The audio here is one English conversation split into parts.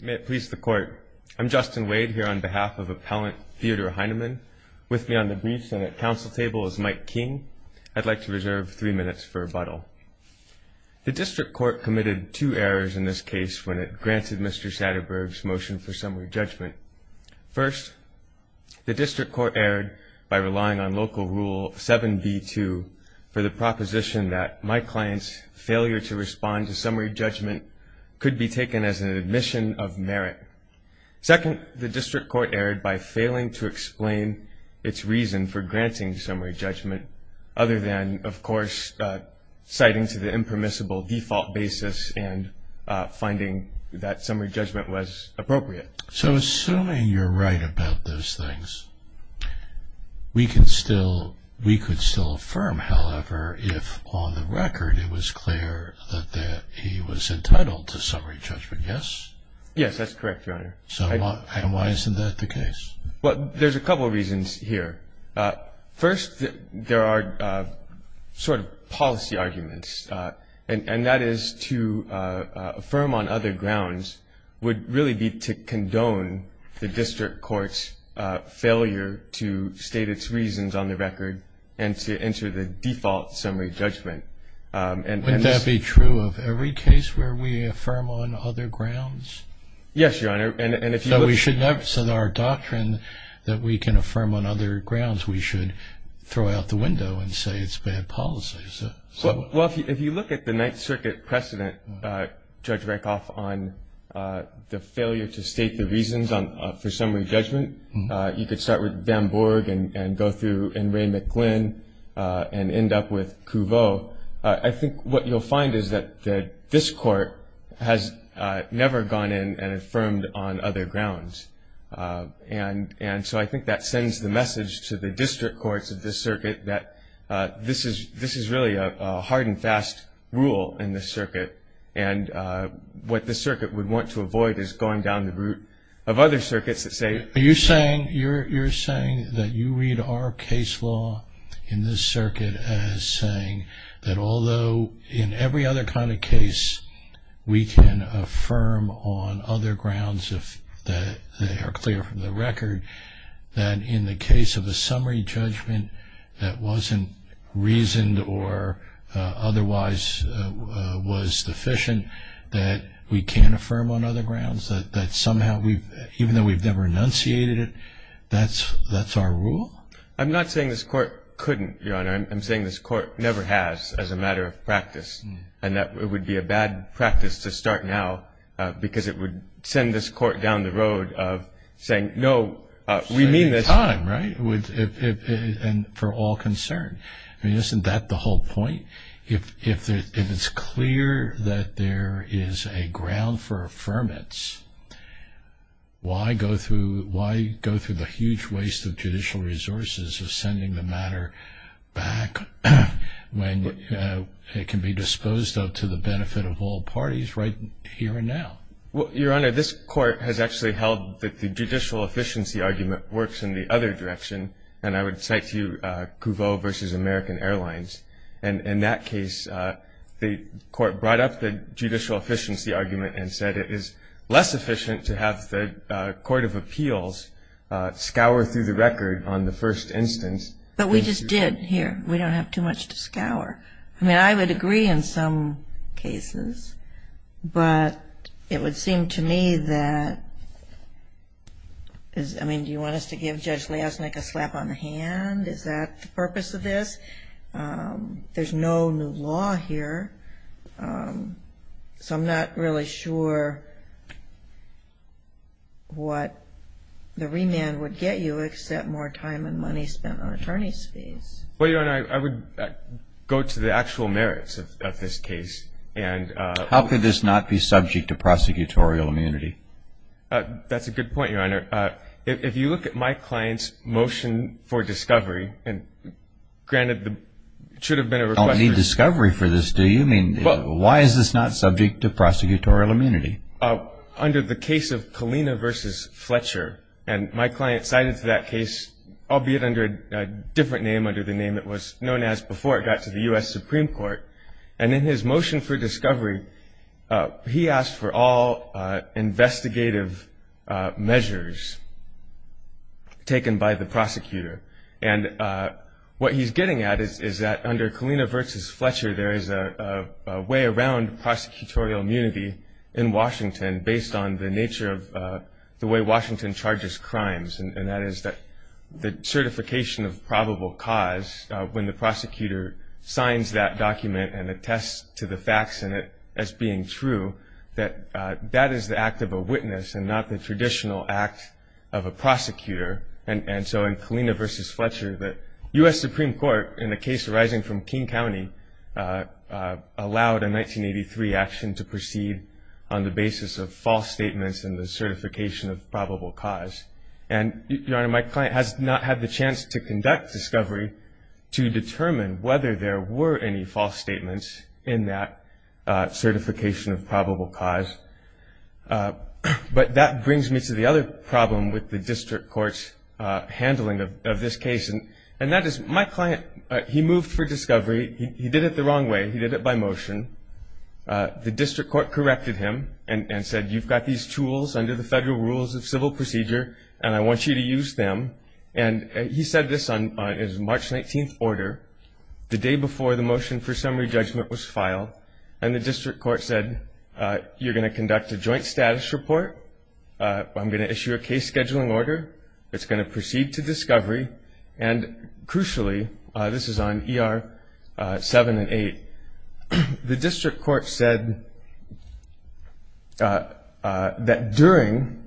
May it please the Court. I'm Justin Wade here on behalf of Appellant Theodore Heinemann. With me on the Green Senate Council table is Mike King. I'd like to reserve three minutes for rebuttal. The District Court committed two errors in this case when it granted Mr. Satterberg's motion for summary judgment. First, the District Court erred by relying on Local Rule 7b-2 for the proposition that my client's failure to respond to summary judgment could be taken as an admission of merit. Second, the District Court erred by failing to explain its reason for granting summary judgment other than, of course, citing to the impermissible default basis and finding that summary judgment was appropriate. So assuming you're right about those things, we could still affirm, however, if on the record it was clear that he was entitled to summary judgment, yes? Yes, that's correct, Your Honor. And why isn't that the case? Well, there's a couple reasons here. First, there are sort of policy arguments, and that is to affirm on other grounds would really be to condone the District Court's failure to state its reasons on the record and to enter the default summary judgment. Wouldn't that be true of every case where we affirm on other grounds? Yes, Your Honor. So our doctrine that we can affirm on other grounds, we should throw out the window and say it's bad policy. Well, if you look at the Ninth Circuit precedent, Judge Rakoff, on the failure to state the reasons for summary judgment, you could start with Bambourg and go through and Ray McGlynn and end up with Couveau. I think what you'll find is that this Court has never gone in and affirmed on other grounds. And so I think that sends the message to the District Courts of this Circuit that this is really a hard and fast rule in this Circuit. And what this Circuit would want to avoid is going down the route of other Circuits that say... Are you saying that you read our case law in this Circuit as saying that although in every other kind of case we can affirm on other grounds if they are clear from the record, that in the case of a summary judgment that wasn't reasoned or otherwise was sufficient, that we can affirm on other grounds? That somehow, even though we've never enunciated it, that's our rule? I'm not saying this Court couldn't, Your Honor. I'm saying this Court never has as a matter of practice. And that it would be a bad practice to start now because it would send this Court down the road of saying, no, we mean this... At the same time, right? And for all concern. I mean, isn't that the whole point? If it's clear that there is a ground for affirmance, why go through the huge waste of judicial resources of sending the matter back when it can be disposed of to the benefit of all parties right here and now? Well, Your Honor, this Court has actually held that the judicial efficiency argument works in the other direction. And I would cite to you Couveau v. American Airlines. And in that case, the Court brought up the judicial efficiency argument and said it is less efficient to have the court of appeals scour through the record on the first instance. But we just did here. We don't have too much to scour. I mean, I would agree in some cases. But it would seem to me that, I mean, do you want us to give Judge Liasnik a slap on the hand? Is that the purpose of this? There's no new law here. So I'm not really sure what the remand would get you except more time and money spent on attorney's fees. Well, Your Honor, I would go to the actual merits of this case. How could this not be subject to prosecutorial immunity? That's a good point, Your Honor. If you look at my client's motion for discovery, granted it should have been a request. I don't need discovery for this, do you? I mean, why is this not subject to prosecutorial immunity? Under the case of Kalina v. Fletcher, and my client cited to that case, albeit under a different name under the name it was known as before it got to the U.S. Supreme Court. And in his motion for discovery, he asked for all investigative measures taken by the prosecutor. And what he's getting at is that under Kalina v. Fletcher, there is a way around prosecutorial immunity in Washington based on the nature of the way Washington charges crimes. And that is that the certification of probable cause when the prosecutor signs that document and attests to the facts in it as being true, that that is the act of a witness and not the traditional act of a prosecutor. And so in Kalina v. Fletcher, the U.S. Supreme Court, in the case arising from King County, allowed a 1983 action to proceed on the basis of false statements and the certification of probable cause. And, Your Honor, my client has not had the chance to conduct discovery to determine whether there were any false statements in that certification of probable cause. But that brings me to the other problem with the district court's handling of this case. And that is my client, he moved for discovery. He did it the wrong way. He did it by motion. The district court corrected him and said, you've got these tools under the federal rules of civil procedure and I want you to use them. And he said this on his March 19th order, the day before the motion for summary judgment was filed. And the district court said, you're going to conduct a joint status report. I'm going to issue a case scheduling order. It's going to proceed to discovery. And crucially, this is on ER 7 and 8, the district court said that during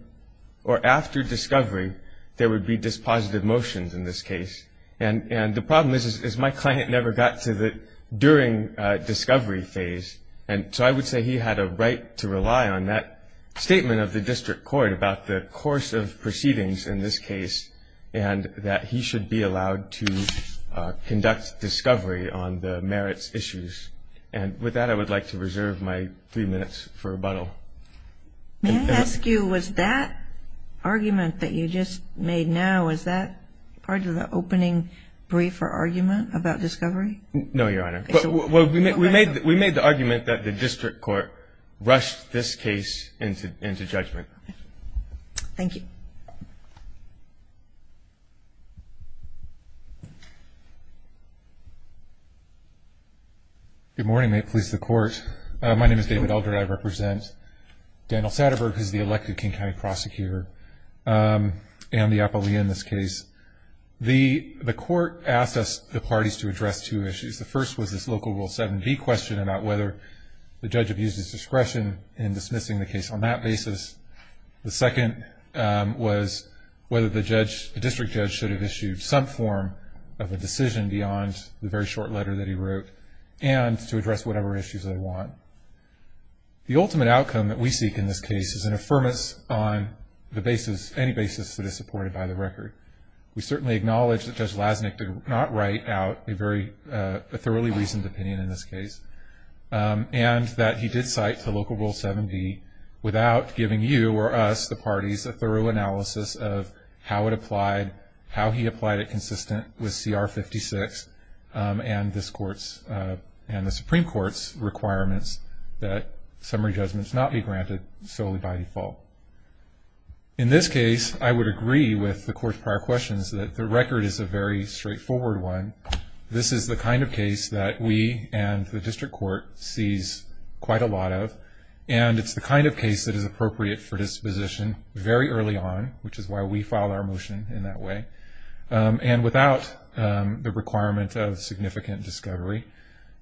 or after discovery there would be dispositive motions in this case. And the problem is, is my client never got to the during discovery phase. And so I would say he had a right to rely on that statement of the district court about the course of proceedings in this case and that he should be allowed to conduct discovery on the merits issues. And with that, I would like to reserve my three minutes for rebuttal. May I ask you, was that argument that you just made now, was that part of the opening brief or argument about discovery? No, Your Honor. We made the argument that the district court rushed this case into judgment. Thank you. Thank you. Good morning. May it please the Court. My name is David Elder, and I represent Daniel Satterberg, who is the elected King County prosecutor and the appellee in this case. The Court asked us, the parties, to address two issues. The first was this Local Rule 7b question about whether the judge abused his discretion in dismissing the case on that basis. The second was whether the district judge should have issued some form of a decision beyond the very short letter that he wrote and to address whatever issues they want. The ultimate outcome that we seek in this case is an affirmance on any basis that is supported by the record. We certainly acknowledge that Judge Lasnik did not write out a very thoroughly reasoned opinion in this case and that he did cite the Local Rule 7b without giving you or us, the parties, a thorough analysis of how it applied, how he applied it consistent with CR 56 and the Supreme Court's requirements that summary judgments not be granted solely by default. In this case, I would agree with the Court's prior questions that the record is a very straightforward one. This is the kind of case that we and the district court sees quite a lot of and it's the kind of case that is appropriate for disposition very early on, which is why we filed our motion in that way, and without the requirement of significant discovery.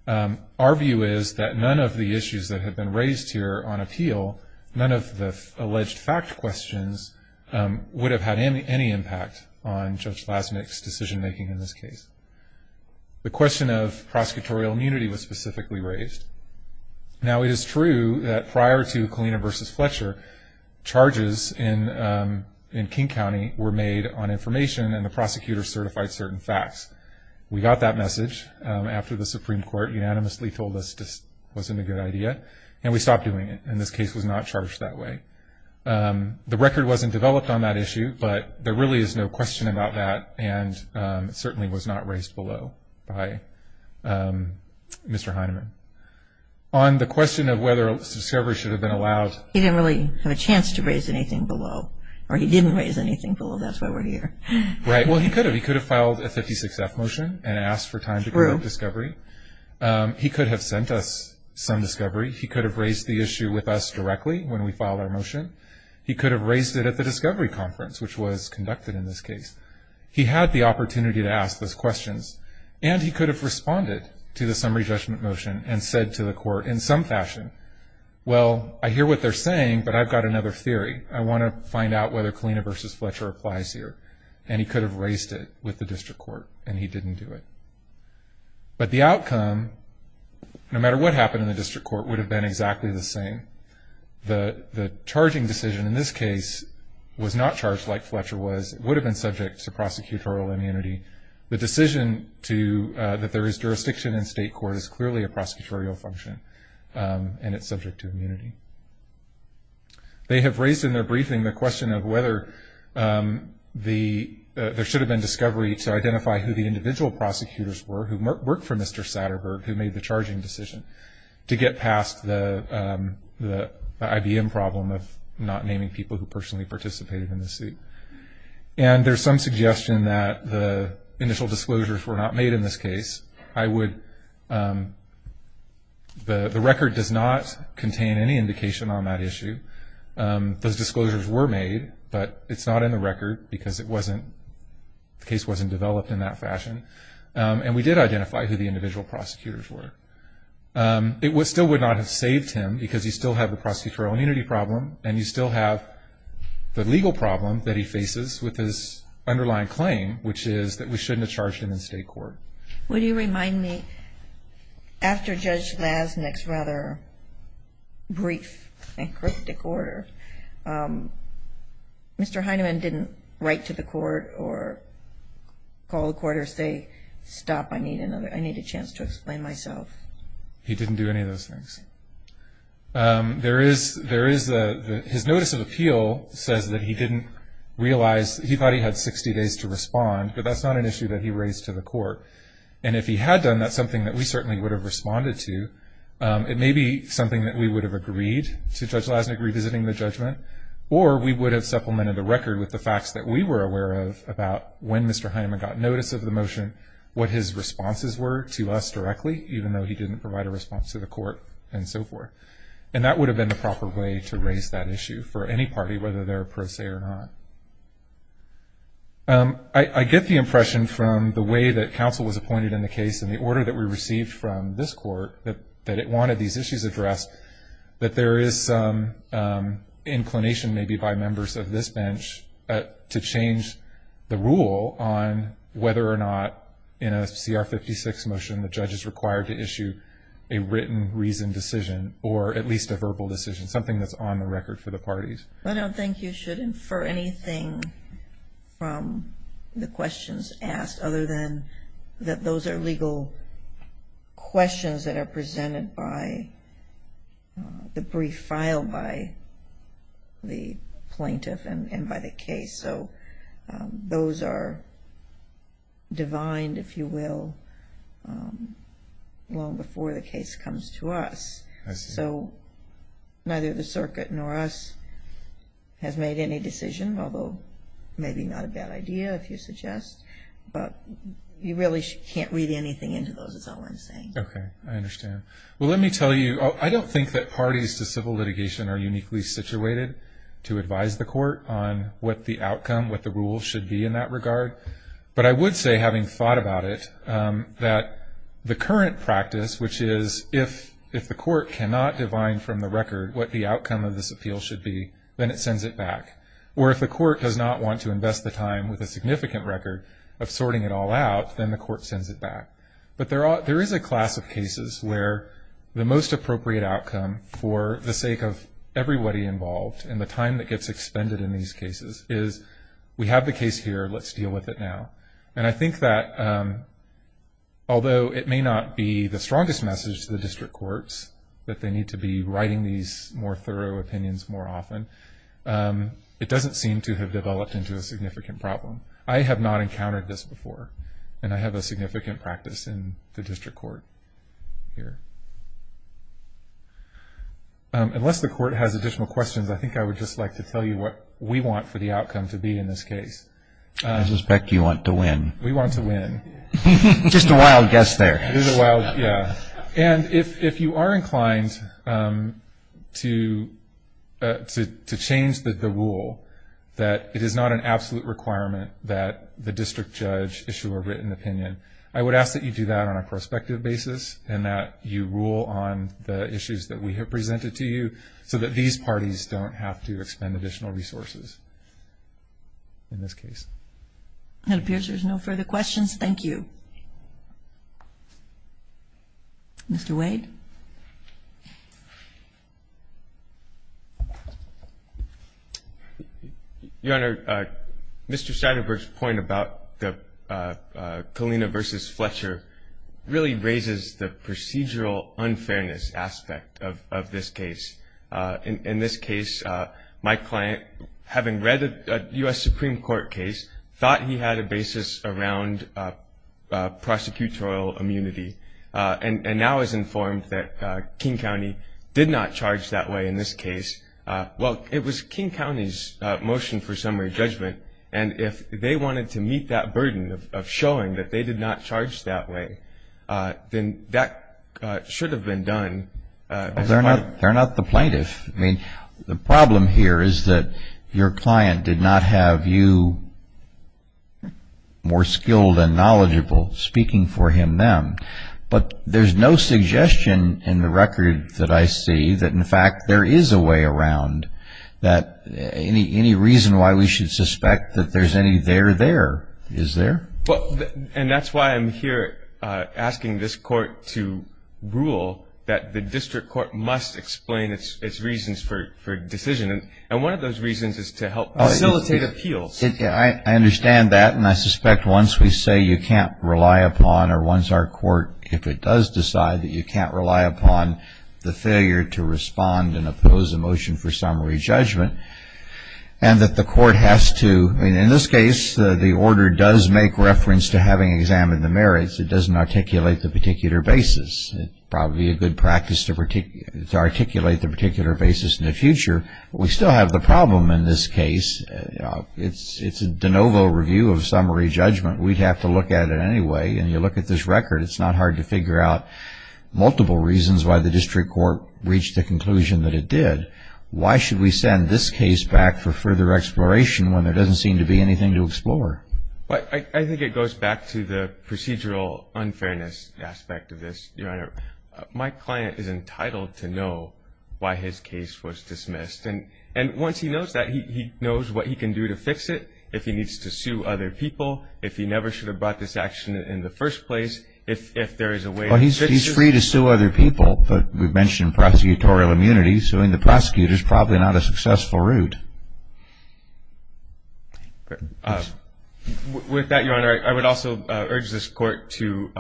Our view is that none of the issues that have been raised here on appeal, none of the alleged fact questions would have had any impact on Judge Lasnik's decision making in this case. The question of prosecutorial immunity was specifically raised. Now, it is true that prior to Kalina v. Fletcher, charges in King County were made on information and the prosecutor certified certain facts. We got that message after the Supreme Court unanimously told us this wasn't a good idea and we stopped doing it, and this case was not charged that way. The record wasn't developed on that issue, but there really is no question about that and it certainly was not raised below by Mr. Heinemann. On the question of whether discovery should have been allowed. He didn't really have a chance to raise anything below, or he didn't raise anything below. That's why we're here. Right. Well, he could have. He could have filed a 56-F motion and asked for time to promote discovery. He could have sent us some discovery. He could have raised the issue with us directly when we filed our motion. He could have raised it at the discovery conference, which was conducted in this case. He had the opportunity to ask those questions, and he could have responded to the summary judgment motion and said to the court, in some fashion, well, I hear what they're saying, but I've got another theory. I want to find out whether Kalina v. Fletcher applies here. And he could have raised it with the district court, and he didn't do it. But the outcome, no matter what happened in the district court, would have been exactly the same. The charging decision in this case was not charged like Fletcher was. It would have been subject to prosecutorial immunity. The decision that there is jurisdiction in state court is clearly a prosecutorial function, and it's subject to immunity. They have raised in their briefing the question of whether there should have been discovery to identify who the individual prosecutors were who worked for Mr. Satterberg, who made the charging decision, to get past the IBM problem of not naming people who personally participated in the suit. And there's some suggestion that the initial disclosures were not made in this case. The record does not contain any indication on that issue. Those disclosures were made, but it's not in the record, because the case wasn't developed in that fashion. And we did identify who the individual prosecutors were. It still would not have saved him, because you still have the prosecutorial immunity problem, and you still have the legal problem that he faces with his underlying claim, which is that we shouldn't have charged him in state court. Would you remind me, after Judge Lasnik's rather brief and cryptic order, Mr. Heinemann didn't write to the court or call the court or say, stop, I need a chance to explain myself. He didn't do any of those things. There is a – his notice of appeal says that he didn't realize – he thought he had 60 days to respond, but that's not an issue that he raised to the court. And if he had done that, something that we certainly would have responded to. It may be something that we would have agreed to Judge Lasnik revisiting the judgment, or we would have supplemented the record with the facts that we were aware of about when Mr. Heinemann got notice of the motion, what his responses were to us directly, even though he didn't provide a response to the court and so forth. And that would have been the proper way to raise that issue for any party, whether they're a pro se or not. I get the impression from the way that counsel was appointed in the case and the order that we received from this court that it wanted these issues addressed that there is some inclination maybe by members of this bench to change the rule on whether or not in a CR 56 motion the judge is required to issue a written reasoned decision or at least a verbal decision, something that's on the record for the parties. I don't think you should infer anything from the questions asked other than that those are legal questions that are presented by the brief filed by the plaintiff and by the case. So those are divined, if you will, long before the case comes to us. So neither the circuit nor us has made any decision, although maybe not a bad idea if you suggest. But you really can't read anything into those is all I'm saying. Okay. I understand. Well, let me tell you, I don't think that parties to civil litigation are uniquely situated to advise the court on what the outcome, what the rule should be in that regard. But I would say, having thought about it, that the current practice, which is if the court cannot divine from the record what the outcome of this appeal should be, then it sends it back. Or if the court does not want to invest the time with a significant record of sorting it all out, then the court sends it back. But there is a class of cases where the most appropriate outcome for the sake of everybody involved and the time that gets expended in these cases is we have the case here, let's deal with it now. And I think that although it may not be the strongest message to the district courts that they need to be writing these more thorough opinions more often, it doesn't seem to have developed into a significant problem. I have not encountered this before. And I have a significant practice in the district court here. Unless the court has additional questions, I think I would just like to tell you what we want for the outcome to be in this case. I suspect you want to win. We want to win. Just a wild guess there. And if you are inclined to change the rule that it is not an absolute requirement that the district judge issue a written opinion, I would ask that you do that on a prospective basis and that you rule on the issues that we have presented to you so that these parties don't have to expend additional resources in this case. It appears there's no further questions. Thank you. Mr. Wade. Your Honor, Mr. Statenberg's point about the Kalina v. Fletcher really raises the procedural unfairness aspect of this case. In this case, my client, having read a U.S. Supreme Court case, thought he had a basis around prosecutorial immunity and now is informed that King County did not charge that way in this case. Well, it was King County's motion for summary judgment, and if they wanted to meet that burden of showing that they did not charge that way, then that should have been done. They're not the plaintiff. I mean, the problem here is that your client did not have you more skilled and knowledgeable speaking for him then. But there's no suggestion in the record that I see that, in fact, there is a way around that. Any reason why we should suspect that there's any there there is there. And that's why I'm here asking this Court to rule that the district court must explain its reasons for decision. And one of those reasons is to help facilitate appeals. I understand that, and I suspect once we say you can't rely upon or once our court, if it does decide that you can't rely upon the failure to respond and oppose a motion for summary judgment and that the court has to, I mean, in this case, the order does make reference to having examined the merits. It doesn't articulate the particular basis. It's probably a good practice to articulate the particular basis in the future. We still have the problem in this case. It's a de novo review of summary judgment. We'd have to look at it anyway, and you look at this record. It's not hard to figure out multiple reasons why the district court reached the conclusion that it did. Why should we send this case back for further exploration when there doesn't seem to be anything to explore? I think it goes back to the procedural unfairness aspect of this, Your Honor. My client is entitled to know why his case was dismissed. And once he knows that, he knows what he can do to fix it, if he needs to sue other people, if he never should have brought this action in the first place, if there is a way to fix it. Well, he's free to sue other people, but we've mentioned prosecutorial immunity. Suing the prosecutor is probably not a successful route. With that, Your Honor, I would also urge this court to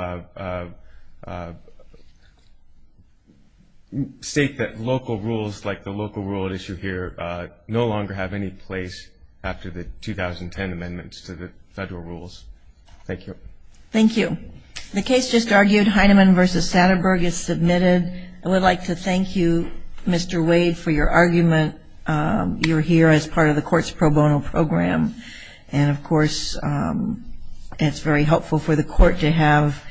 state that local rules, like the local rule at issue here, no longer have any place after the 2010 amendments to the federal rules. Thank you. Thank you. The case just argued, Heinemann v. Satterberg, is submitted. I would like to thank you, Mr. Wade, for your argument. You're here as part of the court's pro bono program. And, of course, it's very helpful for the court to have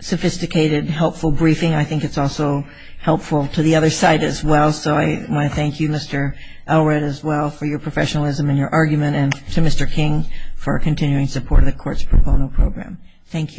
sophisticated, helpful briefing. I think it's also helpful to the other side as well. So I want to thank you, Mr. Elred, as well, for your professionalism and your argument, and to Mr. King for continuing support of the court's pro bono program. Thank you.